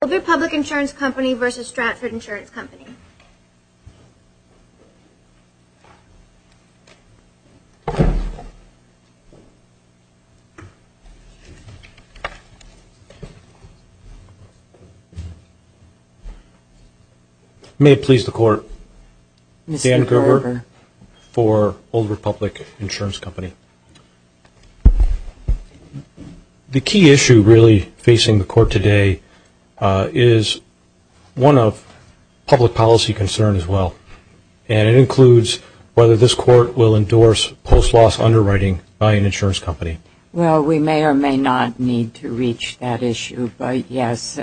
Old Republic Insurance Company v. Stratford Insurance Company May it please the Court Dan Gerber for Old Republic Insurance Company The key issue really facing the Court today is one of public policy concern as well, and it includes whether this Court will endorse post-loss underwriting by an insurance company. Well, we may or may not need to reach that issue, but yes,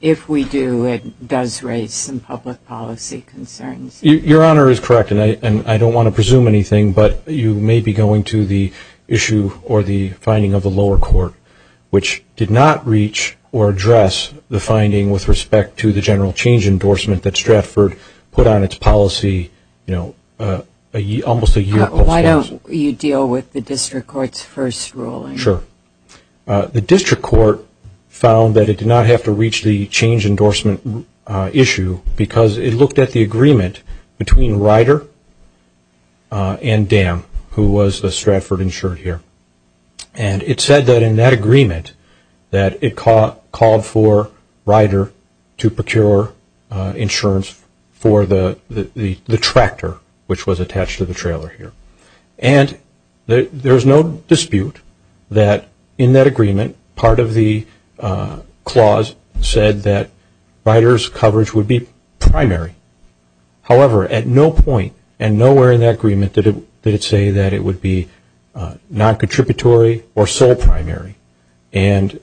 if we do, it does raise some public policy concerns. Your Honor is correct, and I don't want to presume anything, but you may be going to the issue or the finding of the lower court, which did not reach or address the finding with respect to the general change endorsement that Stratford put on its policy almost a year post-loss. Why don't you deal with the District Court's first ruling? The District Court found that it did not have to reach the change endorsement issue because it looked at the agreement between Ryder and Dam, who was the Stratford insured here, and it said that in that agreement that it called for Ryder to procure insurance for the tractor, which was attached to the trailer here. And there's no dispute that in that agreement, part of the clause said that Ryder's coverage would be primary. However, at no point and nowhere in that agreement did it say that it would be non-contributory or sole primary. And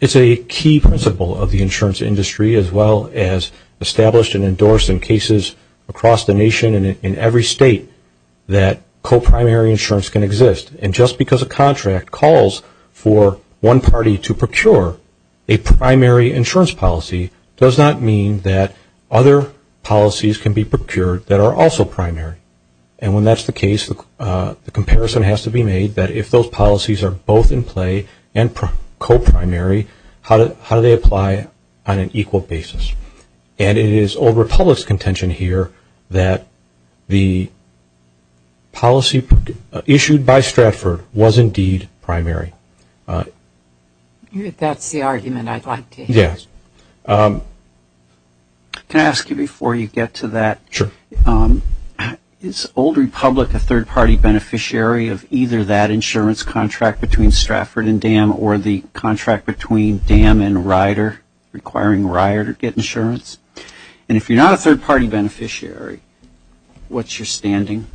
it's a key principle of the insurance industry as well as established and endorsed in cases across the nation and in every state. That co-primary insurance can exist, and just because a contract calls for one party to procure a primary insurance policy does not mean that other policies can be procured that are also primary. And when that's the case, the comparison has to be made that if those policies are both in play and co-primary, how do they apply on an equal basis? And it is Old Republic's contention here that the policy issued by Stratford was indeed primary. That's the argument I'd like to hear. Can I ask you before you get to that, is Old Republic a third party beneficiary of either that insurance contract between Stratford and Dam or the contract between Dam and Ryder requiring Ryder to get insurance? And if you're not a third party beneficiary, what's your standing,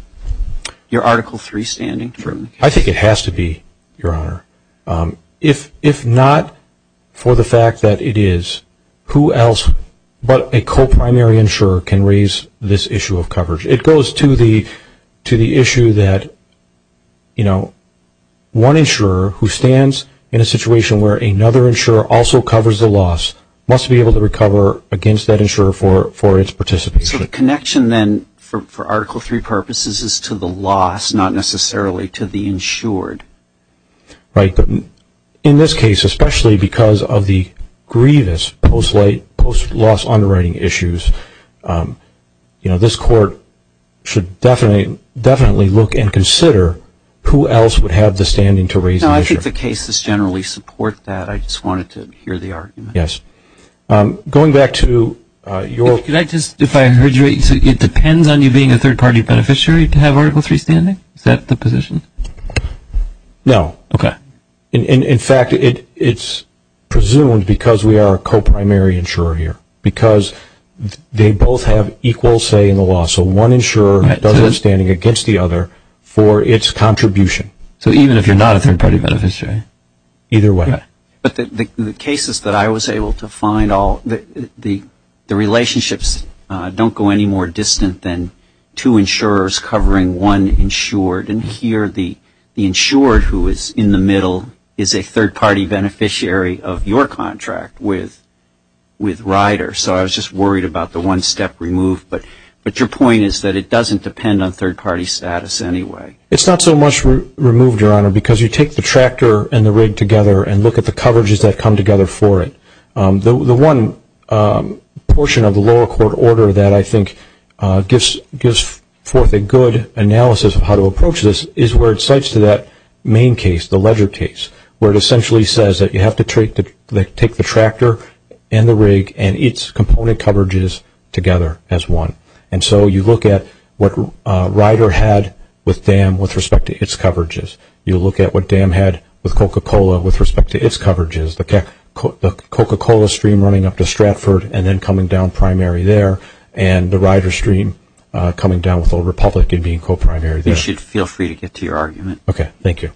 your Article III standing? I think it has to be, Your Honor. If not for the fact that it is, who else but a co-primary insurer can raise this issue of coverage? It goes to the issue that, you know, one insurer who stands in a situation where another insurer also covers the loss must be able to recover a third party insurance policy. So the connection then for Article III purposes is to the loss, not necessarily to the insured. Right, but in this case, especially because of the grievous post-loss underwriting issues, you know, this court should definitely look and consider who else would have the standing to raise the issue. No, I think the cases generally support that. I just wanted to hear the argument. Going back to your... Could I just, if I heard you right, it depends on you being a third party beneficiary to have Article III standing? Is that the position? No. Okay. In fact, it's presumed because we are a co-primary insurer here. Because they both have equal say in the law, so one insurer does have standing against the other for its contribution. So even if you're not a third party beneficiary? Either way. But the cases that I was able to find all, the relationships don't go any more distant than two insurers covering one insured. And here the insured who is in the middle is a third party beneficiary of your contract with Rider. So I was just worried about the one step removed, but your point is that it doesn't depend on third party status anyway. It's not so much removed, Your Honor, because you take the tractor and the rig together and look at the coverages that come together for it. The one portion of the lower court order that I think gives forth a good analysis of how to approach this is where it cites to that main case, the ledger case. Where it essentially says that you have to take the tractor and the rig and its component coverages together as one. And so you look at what Rider had with DAM with respect to its coverages. You look at what DAM had with Coca-Cola with respect to its coverages. The Coca-Cola stream running up to Stratford and then coming down primary there. And the Rider stream coming down with Old Republic and being co-primary there. I think you should feel free to get to your argument. Okay, thank you.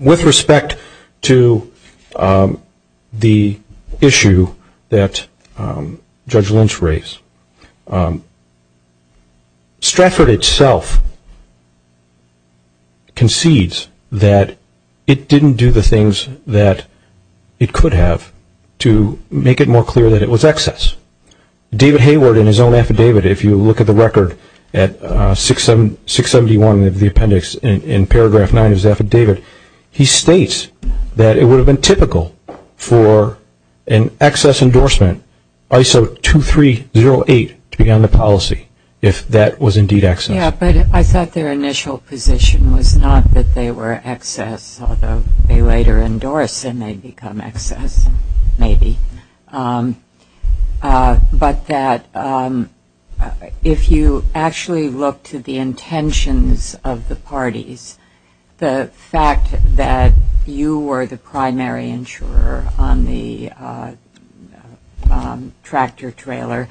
With respect to the issue that Judge Lynch raised, Stratford itself concedes that it didn't do the things that it could have to make it more clear that it was excess. David Hayward in his own affidavit, if you look at the record at 671 of the appendix in paragraph 9 of his affidavit, he states that it would have been typical for an excess endorsement ISO 2308 to be on the policy if that was indeed excess. Yeah, but I thought their initial position was not that they were excess, although they later endorsed it may become excess, maybe. But that if you actually look to the intentions of the parties, the fact that you were the primary insurer on the tractor trailer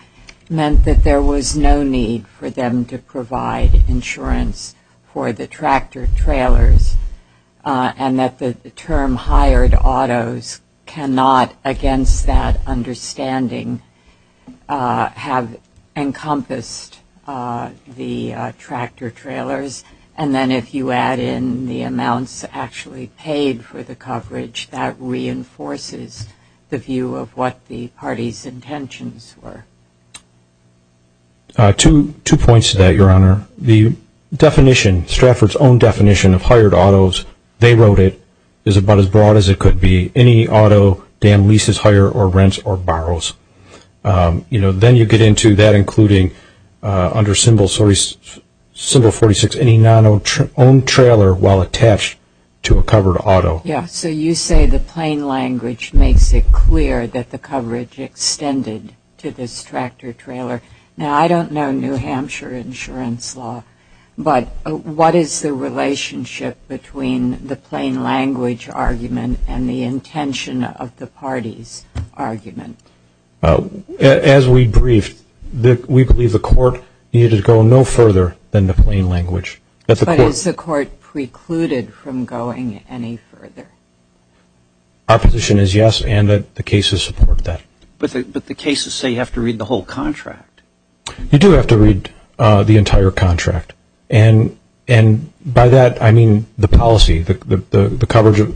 meant that there was no need for them to provide insurance for the tractor trailers. And that the term hired autos cannot, against that understanding, have encompassed the tractor trailers. And then if you add in the amounts actually paid for the coverage, that reinforces the view of what the party's intentions were. Two points to that, Your Honor. One is that they wrote it as about as broad as it could be, any auto Dan leases, hires or rents or borrows. Then you get into that including under symbol 46, any non-owned trailer while attached to a covered auto. Yeah, so you say the plain language makes it clear that the coverage extended to this tractor trailer. Now, I don't know New Hampshire insurance law, but what is the relationship between the plain language argument and the intention of the party's argument? As we briefed, we believe the court needed to go no further than the plain language. But is the court precluded from going any further? Our position is yes, and the cases support that. But the cases say you have to read the whole contract. You do have to read the entire contract. And by that, I mean the policy, the coverage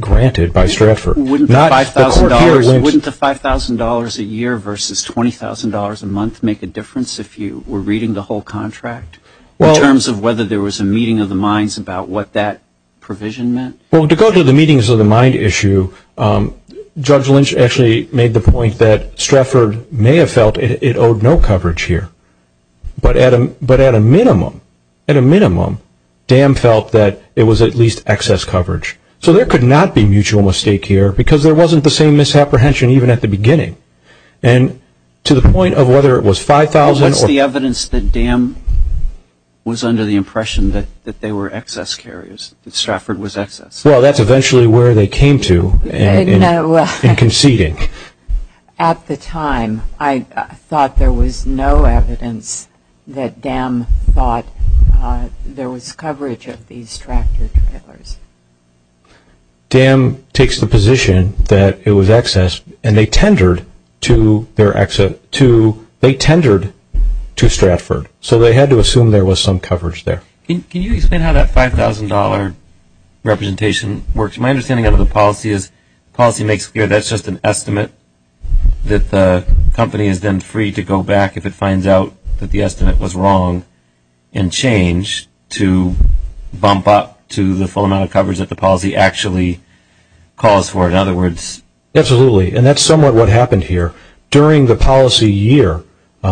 granted by Stratford. Wouldn't the $5,000 a year versus $20,000 a month make a difference if you were reading the whole contract in terms of whether there was a meeting of the minds about what that provision meant? Well, to go to the meetings of the mind issue, Judge Lynch actually made the point that Stratford may have felt it owed no coverage here. But at a minimum, DAM felt that it was at least excess coverage. So there could not be mutual mistake here, because there wasn't the same misapprehension even at the beginning. And to the point of whether it was $5,000 or What's the evidence that DAM was under the impression that they were excess carriers, that Stratford was excess? Well, that's eventually where they came to in conceding. At the time, I thought there was no evidence that DAM thought there was coverage of these tractor trailers. DAM takes the position that it was excess, and they tendered to Stratford. So they had to assume there was some coverage there. Can you explain how that $5,000 representation works? My understanding of the policy is policy makes clear that's just an estimate, that the company is then free to go back if it finds out that the estimate was wrong and change to bump up to the full amount of coverage that the policy actually calls for. In other words, Absolutely, and that's somewhat what happened here. During the policy year,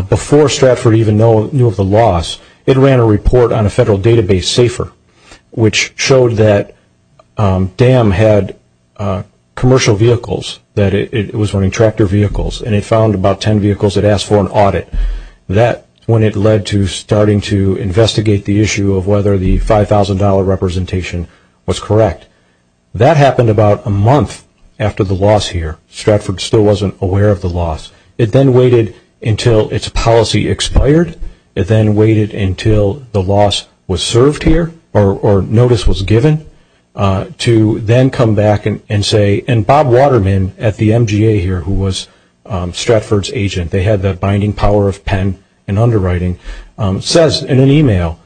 before Stratford even knew of the loss, it ran a report on a federal database, SAFER, which showed that DAM had commercial vehicles, that it was running tractor vehicles, and it found about 10 vehicles. It asked for an audit. That's when it led to starting to investigate the issue of whether the $5,000 representation was correct. That happened about a month after the loss here. Stratford still wasn't aware of the loss. It then waited until its policy expired. It then waited until the loss was served here, or notice was given, to then come back and say, and Bob Waterman at the MGA here, who was Stratford's agent, they had that binding power of pen and underwriting, says in an email,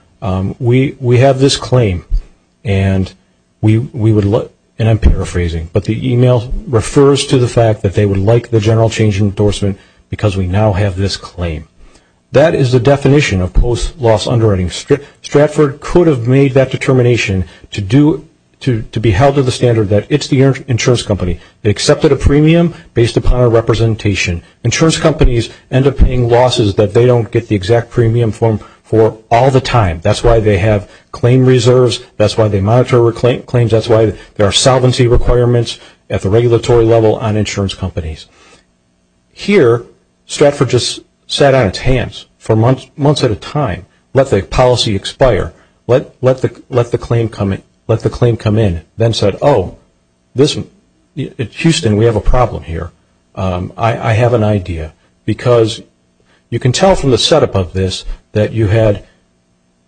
we have this claim, and I'm paraphrasing, but the email refers to the fact that they would like the general change endorsement because we now have this claim. That is the definition of post-loss underwriting. Stratford could have made that determination to be held to the standard that it's the insurance company. They accepted a premium based upon a representation. Insurance companies end up paying losses that they don't get the exact premium for all the time. That's why they have claim reserves. That's why they monitor claims. That's why there are solvency requirements at the regulatory level on insurance companies. Here, Stratford just sat on its hands for months at a time. Let the policy expire. Let the claim come in. Then said, oh, Houston, we have a problem here. I have an idea. Because you can tell from the setup of this that you had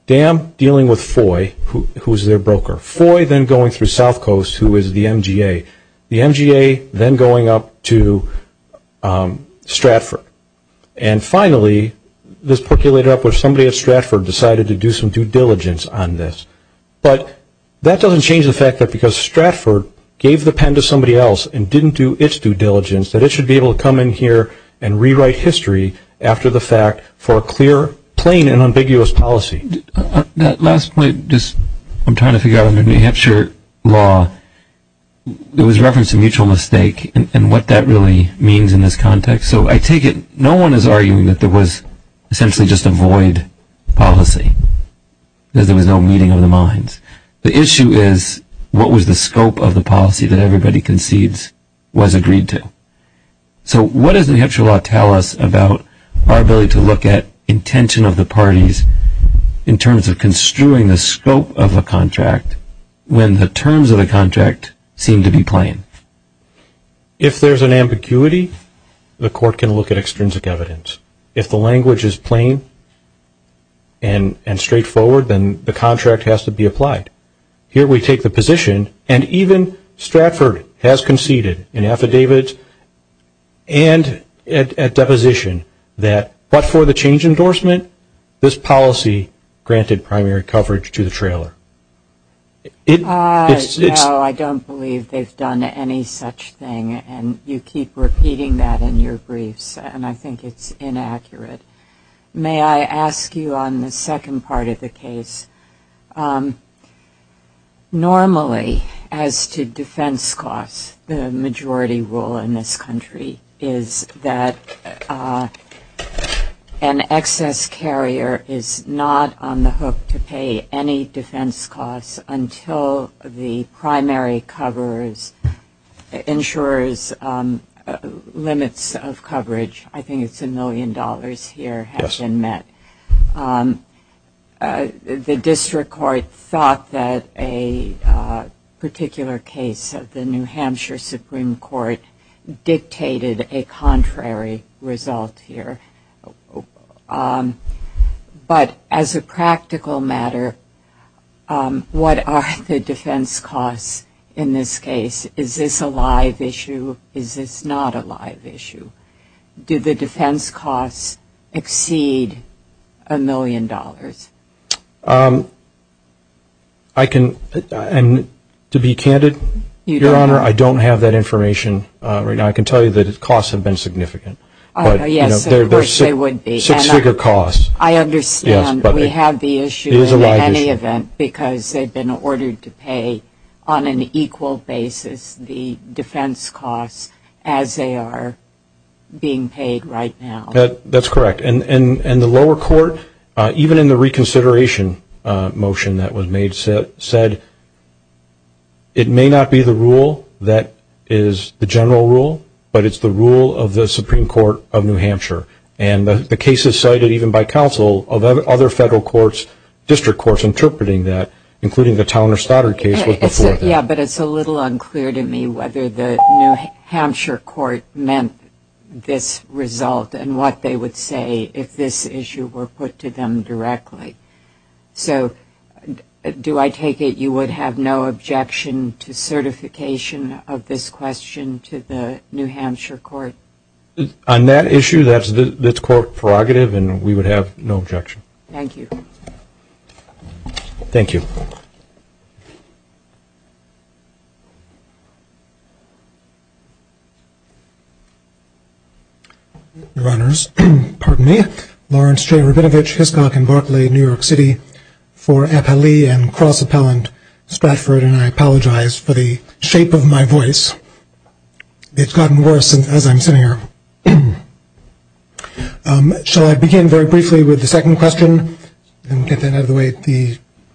DAM dealing with FOI, who is their broker. FOI then going through South Coast, who is the MGA. The MGA then going up to Stratford. And finally, this percolated up where somebody at Stratford decided to do some due diligence on this. But that doesn't change the fact that because Stratford gave the pen to somebody else and didn't do its due diligence that it should be able to come in here and rewrite history after the fact for a clear, plain, and ambiguous policy. That last point, I'm trying to figure out under New Hampshire law, there was reference to mutual mistake and what that really means in this context. So I take it no one is arguing that there was essentially just a void policy because there was no meeting of the minds. The issue is what was the scope of the policy that everybody concedes was agreed to. So what does New Hampshire law tell us about our ability to look at intention of the parties in terms of construing the scope of a contract when the terms of the contract seem to be plain? If there's an ambiguity, the court can look at extrinsic evidence. If the language is plain and straightforward, then the contract has to be applied. Here we take the position, and even Stratford has conceded in affidavits and at deposition that but for the change endorsement, this policy granted primary coverage to the trailer. No, I don't believe they've done any such thing, and you keep repeating that in your briefs, and I think it's inaccurate. May I ask you on the second part of the case, normally as to defense costs, the majority rule in this country is that an excess carrier is not on the hook to pay any defense costs until the primary insurers limits of coverage. I think it's a million dollars here have been met. The district court thought that a particular case of the New Hampshire Supreme Court dictated a contrary result here. But as a practical matter, what are the defense costs in this case? Is this a live issue? Is this not a live issue? Do the defense costs exceed a million dollars? I can, and to be candid, Your Honor, I don't have that information right now. I can tell you that its costs have been significant. Yes, of course they would be. Six-figure costs. I understand we have the issue. It is a live issue. In any event, because they've been ordered to pay on an equal basis the defense costs as they are being paid right now. That's correct. And the lower court, even in the reconsideration motion that was made, said it may not be the rule that is the general rule, but it's the rule of the Supreme Court of New Hampshire. And the case is cited even by counsel of other federal courts, district courts, interpreting that, including the Towner-Stoddard case. Yes, but it's a little unclear to me whether the New Hampshire court meant this result and what they would say if this issue were put to them directly. So do I take it you would have no objection to certification of this question to the New Hampshire court? On that issue, that's court prerogative, and we would have no objection. Thank you. Thank you. Your Honors, Lawrence J. Rabinovich, Hiscock & Barclay, New York City, for appellee and cross-appellant Stratford, and I apologize for the shape of my voice. It's gotten worse as I'm sitting here. Shall I begin very briefly with the second question and get that out of the way?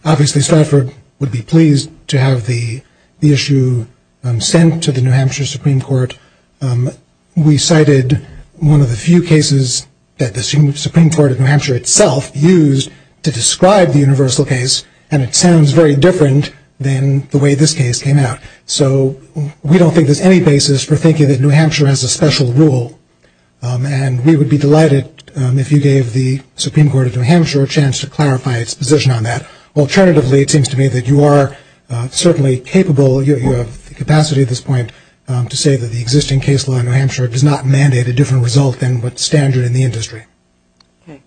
Obviously, Stratford would be pleased to have the issue sent to the New Hampshire Supreme Court. We cited one of the few cases that the Supreme Court of New Hampshire itself used to describe the universal case, and it sounds very different than the way this case came out. So we don't think there's any basis for thinking that New Hampshire has a special rule, and we would be delighted if you gave the Supreme Court of New Hampshire a chance to clarify its position on that. Alternatively, it seems to me that you are certainly capable, you have the capacity at this point, to say that the existing case law in New Hampshire does not mandate a different result than what's standard in the industry. Okay.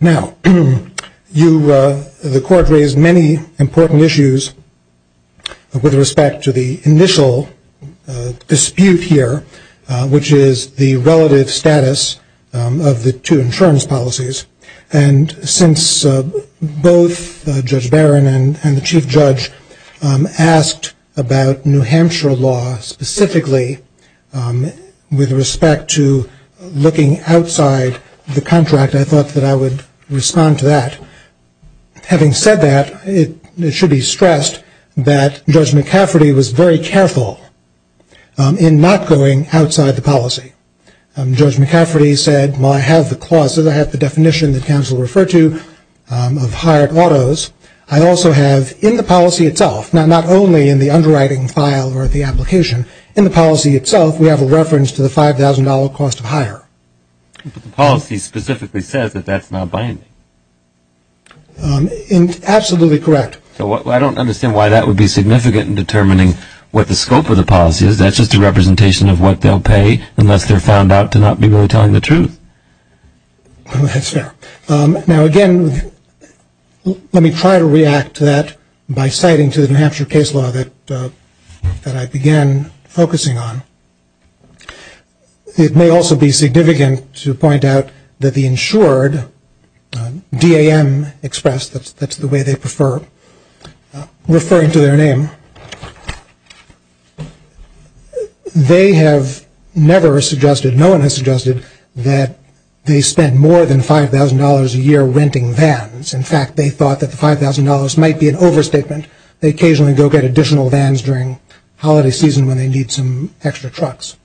Now, the court raised many important issues with respect to the initial dispute here, which is the relative status of the two insurance policies, and since both Judge Barron and the Chief Judge asked about New Hampshire law specifically with respect to looking outside the contract, I thought that I would respond to that. Having said that, it should be stressed that Judge McCafferty was very careful in not going outside the policy. Judge McCafferty said, well, I have the clauses, I have the definition that counsel referred to of hired autos. I also have in the policy itself, not only in the underwriting file or the application, in the policy itself we have a reference to the $5,000 cost of hire. But the policy specifically says that that's not binding. Absolutely correct. So I don't understand why that would be significant in determining what the scope of the policy is. That's just a representation of what they'll pay unless they're found out to not be really telling the truth. That's fair. Now, again, let me try to react to that by citing to the New Hampshire case law that I began focusing on. It may also be significant to point out that the insured, DAM Express, that's the way they prefer referring to their name, they have never suggested, no one has suggested that they spend more than $5,000 a year renting vans. In fact, they thought that the $5,000 might be an overstatement. They occasionally go get additional vans during holiday season when they need some extra trucks.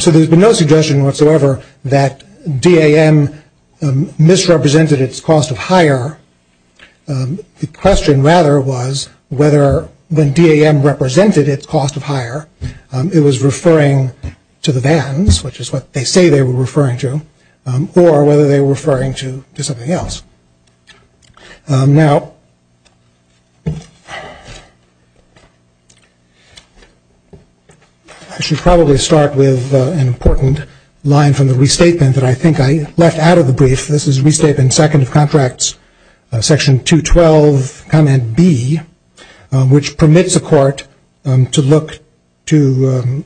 So there's been no suggestion whatsoever that DAM misrepresented its cost of hire. The question, rather, was whether when DAM represented its cost of hire, it was referring to the vans, which is what they say they were referring to, or whether they were referring to something else. Now, I should probably start with an important line from the restatement that I think I left out of the brief. This is Restatement Second of Contracts, Section 212, Comment B, which permits a court to look to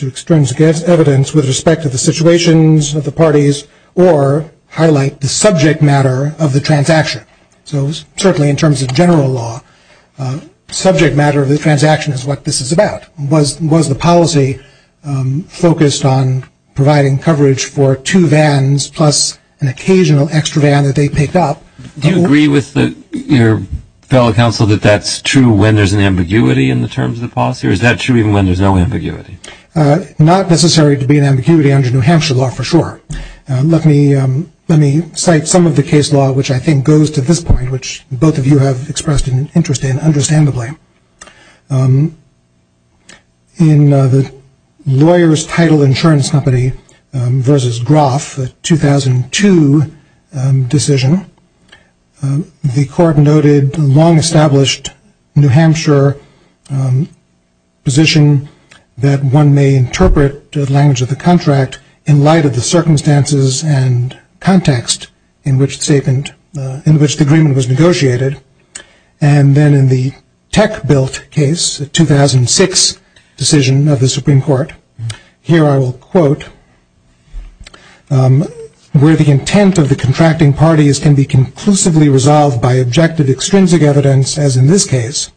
extrinsic evidence with respect to the situations of the parties or highlight the subject matter of the transaction. So certainly in terms of general law, subject matter of the transaction is what this is about. Was the policy focused on providing coverage for two vans plus an occasional extra van that they picked up? Do you agree with your fellow counsel that that's true when there's an ambiguity in the terms of the policy, or is that true even when there's no ambiguity? Not necessary to be an ambiguity under New Hampshire law, for sure. Let me cite some of the case law, which I think goes to this point, which both of you have expressed an interest in understandably. In the lawyer's title insurance company versus Groff, a 2002 decision, the court noted the long-established New Hampshire position that one may interpret the language of the contract in light of the circumstances and context in which the agreement was negotiated. And then in the tech-built case, a 2006 decision of the Supreme Court, here I will quote, where the intent of the contracting parties can be conclusively resolved by objective extrinsic evidence, as in this case,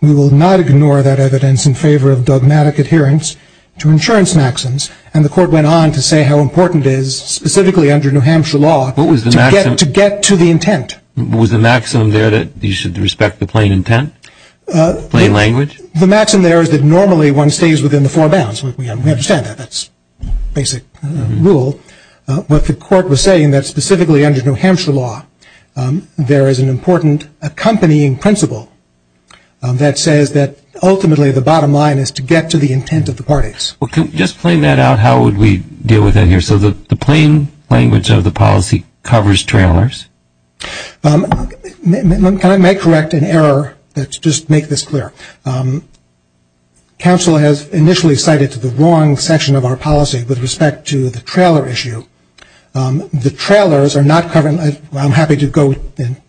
we will not ignore that evidence in favor of dogmatic adherence to insurance maxims. And the court went on to say how important it is, specifically under New Hampshire law, to get to the intent. Was the maximum there that you should respect the plain intent, plain language? The maximum there is that normally one stays within the four bounds. We understand that. That's basic rule. But the court was saying that specifically under New Hampshire law, there is an important accompanying principle that says that ultimately the bottom line is to get to the intent of the parties. Well, can we just plain that out? How would we deal with that here? So the plain language of the policy covers trailers? Can I correct an error? Let's just make this clear. Counsel has initially cited the wrong section of our policy with respect to the trailer issue. The trailers are not covered. I'm happy to go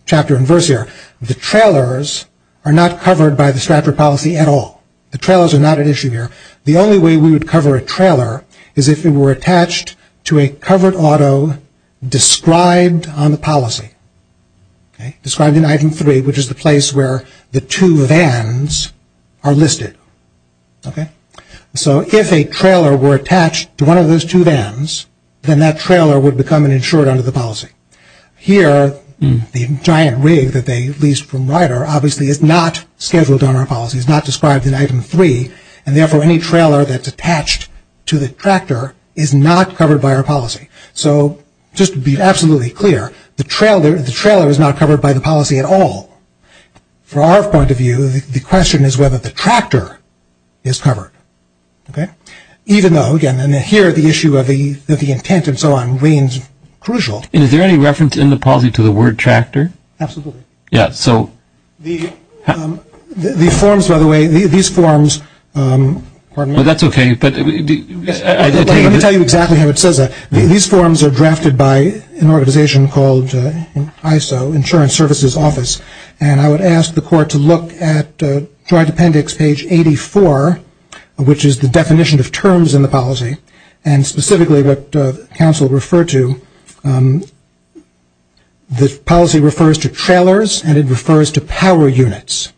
chapter and verse here. The trailers are not covered by the Stratford policy at all. The trailers are not an issue here. The only way we would cover a trailer is if it were attached to a covered auto described on the policy, described in item three, which is the place where the two vans are listed. So if a trailer were attached to one of those two vans, then that trailer would become an insured under the policy. Here, the giant rig that they leased from Ryder obviously is not scheduled on our policy. It is not described in item three. And therefore, any trailer that's attached to the tractor is not covered by our policy. So just to be absolutely clear, the trailer is not covered by the policy at all. From our point of view, the question is whether the tractor is covered. Okay? Even though, again, here the issue of the intent and so on remains crucial. And is there any reference in the policy to the word tractor? Absolutely. Yeah, so the forms, by the way, these forms, pardon me. That's okay. Let me tell you exactly how it says that. These forms are drafted by an organization called ISO, Insurance Services Office. And I would ask the court to look at joint appendix page 84, which is the definition of terms in the policy, and specifically what counsel referred to. The policy refers to trailers, and it refers to power units.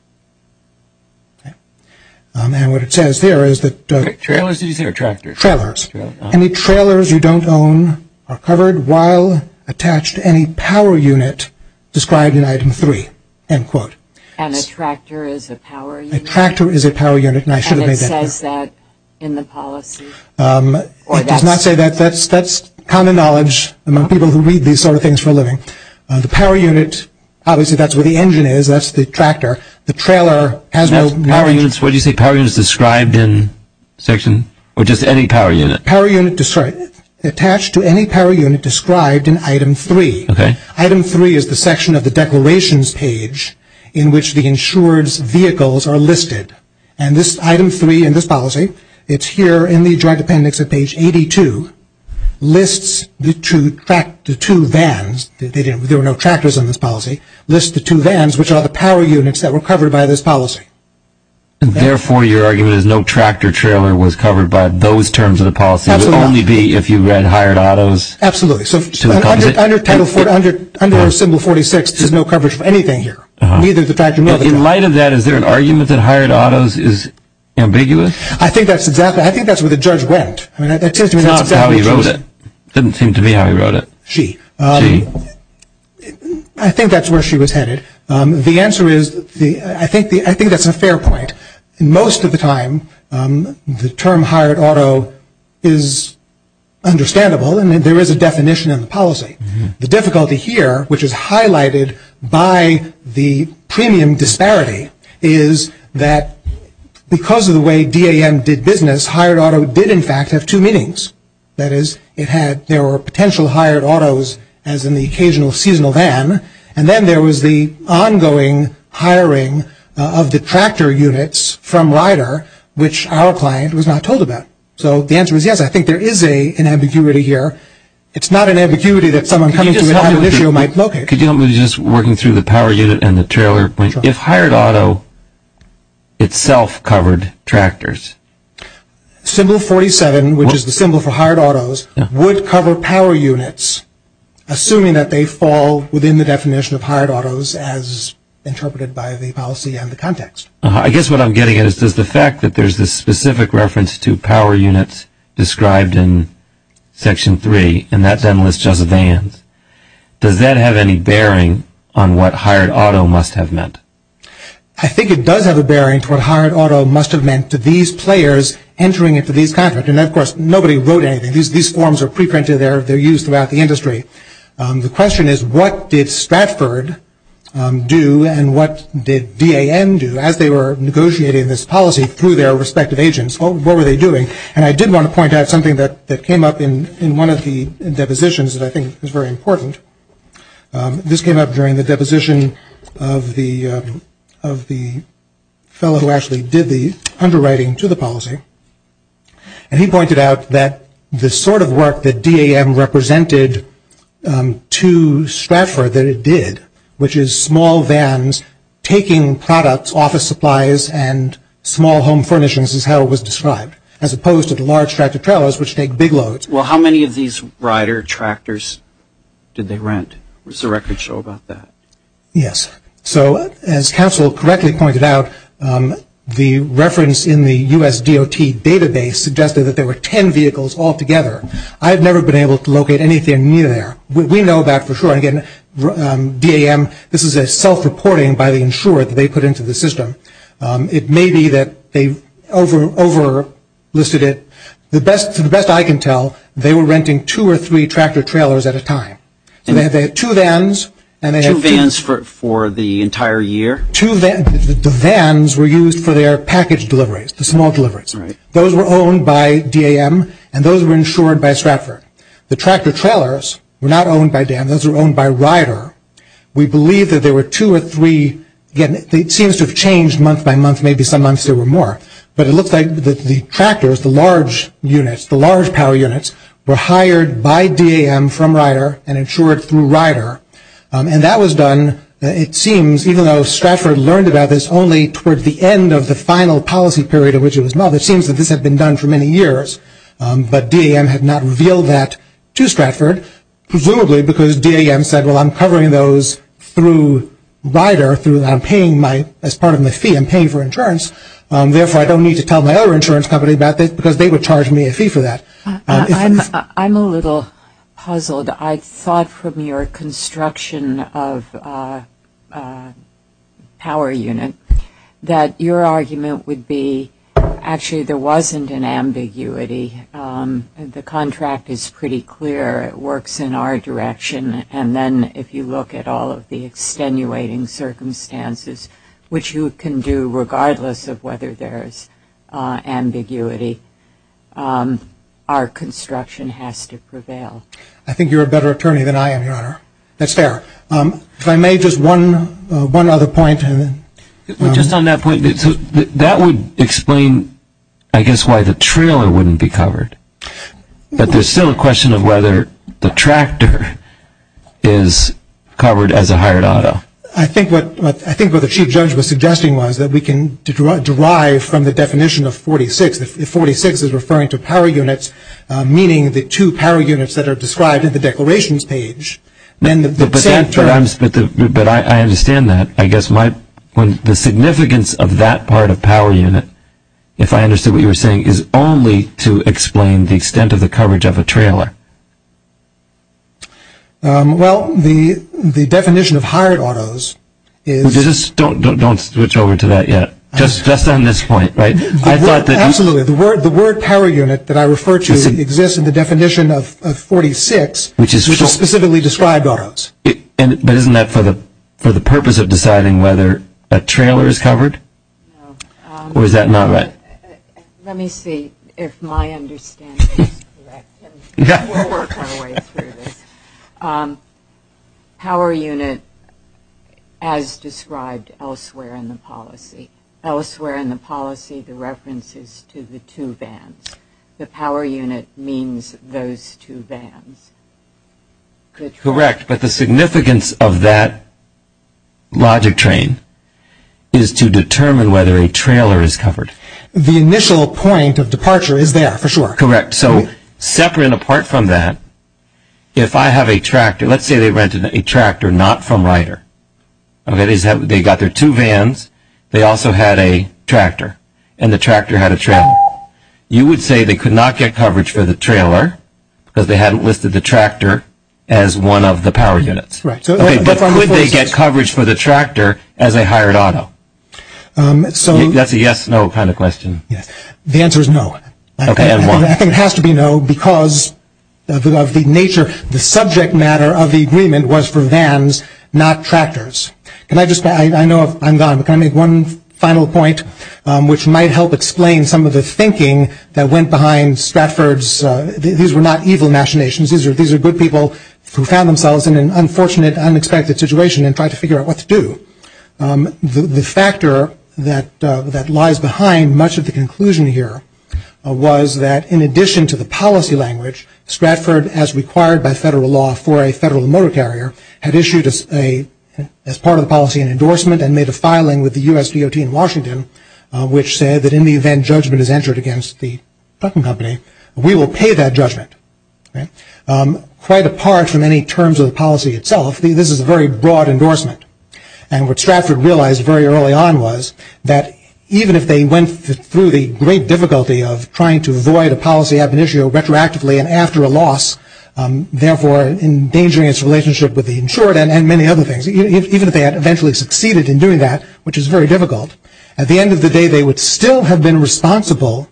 And what it says there is that trailers, trailers, any trailers you don't own are covered while attached to any power unit described in item three, end quote. And a tractor is a power unit? A tractor is a power unit, and I should have made that clear. What does that say in the policy? It does not say that. That's common knowledge among people who read these sort of things for a living. The power unit, obviously that's where the engine is, that's the tractor. The trailer has no marriage. What do you say, power units described in section? Or just any power unit? Power unit described, attached to any power unit described in item three. Okay. Item three is the section of the declarations page in which the insured's vehicles are listed. And this item three in this policy, it's here in the Joint Appendix at page 82, lists the two vans. There were no tractors in this policy. It lists the two vans, which are the power units that were covered by this policy. Therefore, your argument is no tractor trailer was covered by those terms of the policy. Absolutely not. It would only be if you read hired autos. Absolutely. Under symbol 46, there's no coverage for anything here, neither the tractor nor the trailer. In light of that, is there an argument that hired autos is ambiguous? I think that's exactly, I think that's where the judge went. It's not how he wrote it. It doesn't seem to be how he wrote it. Gee. I think that's where she was headed. The answer is, I think that's a fair point. Most of the time, the term hired auto is understandable and there is a definition in the policy. The difficulty here, which is highlighted by the premium disparity, is that because of the way D.A.M. did business, hired auto did, in fact, have two meanings. That is, it had, there were potential hired autos, as in the occasional seasonal van, and then there was the ongoing hiring of the tractor units from Rider, which our client was not told about. So the answer is yes, I think there is an ambiguity here. It's not an ambiguity that someone coming to you and having an issue might locate. Could you help me with just working through the power unit and the trailer point? If hired auto itself covered tractors? Symbol 47, which is the symbol for hired autos, would cover power units, assuming that they fall within the definition of hired autos as interpreted by the policy and the context. I guess what I'm getting at is just the fact that there's this specific reference to power units described in Section 3, and that doesn't list just vans. Does that have any bearing on what hired auto must have meant? I think it does have a bearing to what hired auto must have meant to these players entering into these contracts. And, of course, nobody wrote anything. These forms are pre-printed. They're used throughout the industry. The question is what did Stratford do and what did DAN do as they were negotiating this policy through their respective agents? What were they doing? And I did want to point out something that came up in one of the depositions that I think is very important. This came up during the deposition of the fellow who actually did the underwriting to the policy. And he pointed out that the sort of work that DAN represented to Stratford that it did, which is small vans taking products, office supplies, and small home furnishings is how it was described, as opposed to the large tractor-trailers which take big loads. Well, how many of these rider tractors did they rent? What does the record show about that? Yes. So as Council correctly pointed out, the reference in the U.S. DOT database suggested that there were 10 vehicles altogether. I've never been able to locate anything near there. We know that for sure. Again, DAN, this is a self-reporting by the insurer that they put into the system. It may be that they over-listed it. To the best I can tell, they were renting two or three tractor-trailers at a time. Two vans for the entire year? Two vans. The vans were used for their package deliveries, the small deliveries. Those were owned by DAM, and those were insured by Stratford. The tractor-trailers were not owned by DAM. Those were owned by Rider. We believe that there were two or three. Again, it seems to have changed month by month. Maybe some months there were more. But it looks like the tractors, the large units, the large power units, were hired by DAM from Rider and insured through Rider. And that was done, it seems, even though Stratford learned about this only towards the end of the final policy period in which it was modeled. It seems that this had been done for many years. But DAM had not revealed that to Stratford, presumably because DAM said, well, I'm covering those through Rider. As part of my fee, I'm paying for insurance. Therefore, I don't need to tell my other insurance company about this because they would charge me a fee for that. I'm a little puzzled. I thought from your construction of a power unit that your argument would be, actually there wasn't an ambiguity. The contract is pretty clear. It works in our direction. And then if you look at all of the extenuating circumstances, which you can do regardless of whether there's ambiguity, our construction has to prevail. I think you're a better attorney than I am, Your Honor. That's fair. If I may, just one other point. Just on that point, that would explain, I guess, why the trailer wouldn't be covered. But there's still a question of whether the tractor is covered as a hired auto. I think what the Chief Judge was suggesting was that we can derive from the definition of 46. If 46 is referring to power units, meaning the two power units that are described in the declarations page, then the same term But I understand that. I guess the significance of that part of power unit, if I understood what you were saying, is only to explain the extent of the coverage of a trailer. Well, the definition of hired autos is... Don't switch over to that yet. Just on this point, right? Absolutely. The word power unit that I refer to exists in the definition of 46, which is specifically described autos. But isn't that for the purpose of deciding whether a trailer is covered? No. Or is that not right? Let me see if my understanding is correct. We'll work our way through this. Power unit as described elsewhere in the policy. Elsewhere in the policy, the reference is to the two vans. The power unit means those two vans. Correct. But the significance of that logic train is to determine whether a trailer is covered. The initial point of departure is there, for sure. Correct. So separate and apart from that, if I have a tractor, let's say they rented a tractor not from Ryder. They got their two vans. They also had a tractor, and the tractor had a trailer. You would say they could not get coverage for the trailer because they hadn't listed the tractor as one of the power units. But could they get coverage for the tractor as a hired auto? That's a yes, no kind of question. The answer is no. Okay, and why? I think it has to be no because of the nature. The subject matter of the agreement was for vans, not tractors. I know I'm gone, but can I make one final point, which might help explain some of the thinking that went behind Stratford's. These were not evil machinations. These are good people who found themselves in an unfortunate, unexpected situation and tried to figure out what to do. The factor that lies behind much of the conclusion here was that in addition to the policy language, Stratford, as required by federal law for a federal motor carrier, had issued as part of the policy an endorsement and made a filing with the U.S. DOT in Washington, which said that in the event judgment is entered against the trucking company, we will pay that judgment. Quite apart from any terms of the policy itself, this is a very broad endorsement. And what Stratford realized very early on was that even if they went through the great difficulty of trying to avoid a policy ab initio retroactively and after a loss, therefore endangering its relationship with the insured and many other things, even if they had eventually succeeded in doing that, which is very difficult, at the end of the day they would still have been responsible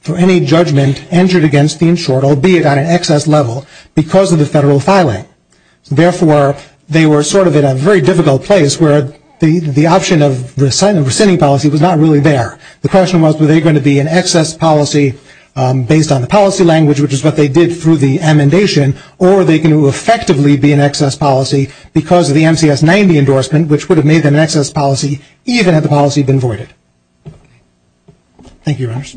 for any judgment entered against the insured, albeit on an excess level, because of the federal filing. Therefore, they were sort of in a very difficult place, where the option of rescinding policy was not really there. The question was, were they going to be an excess policy based on the policy language, which is what they did through the amendation, or were they going to effectively be an excess policy because of the MCS 90 endorsement, which would have made them an excess policy even had the policy been voided. Thank you, Your Honors.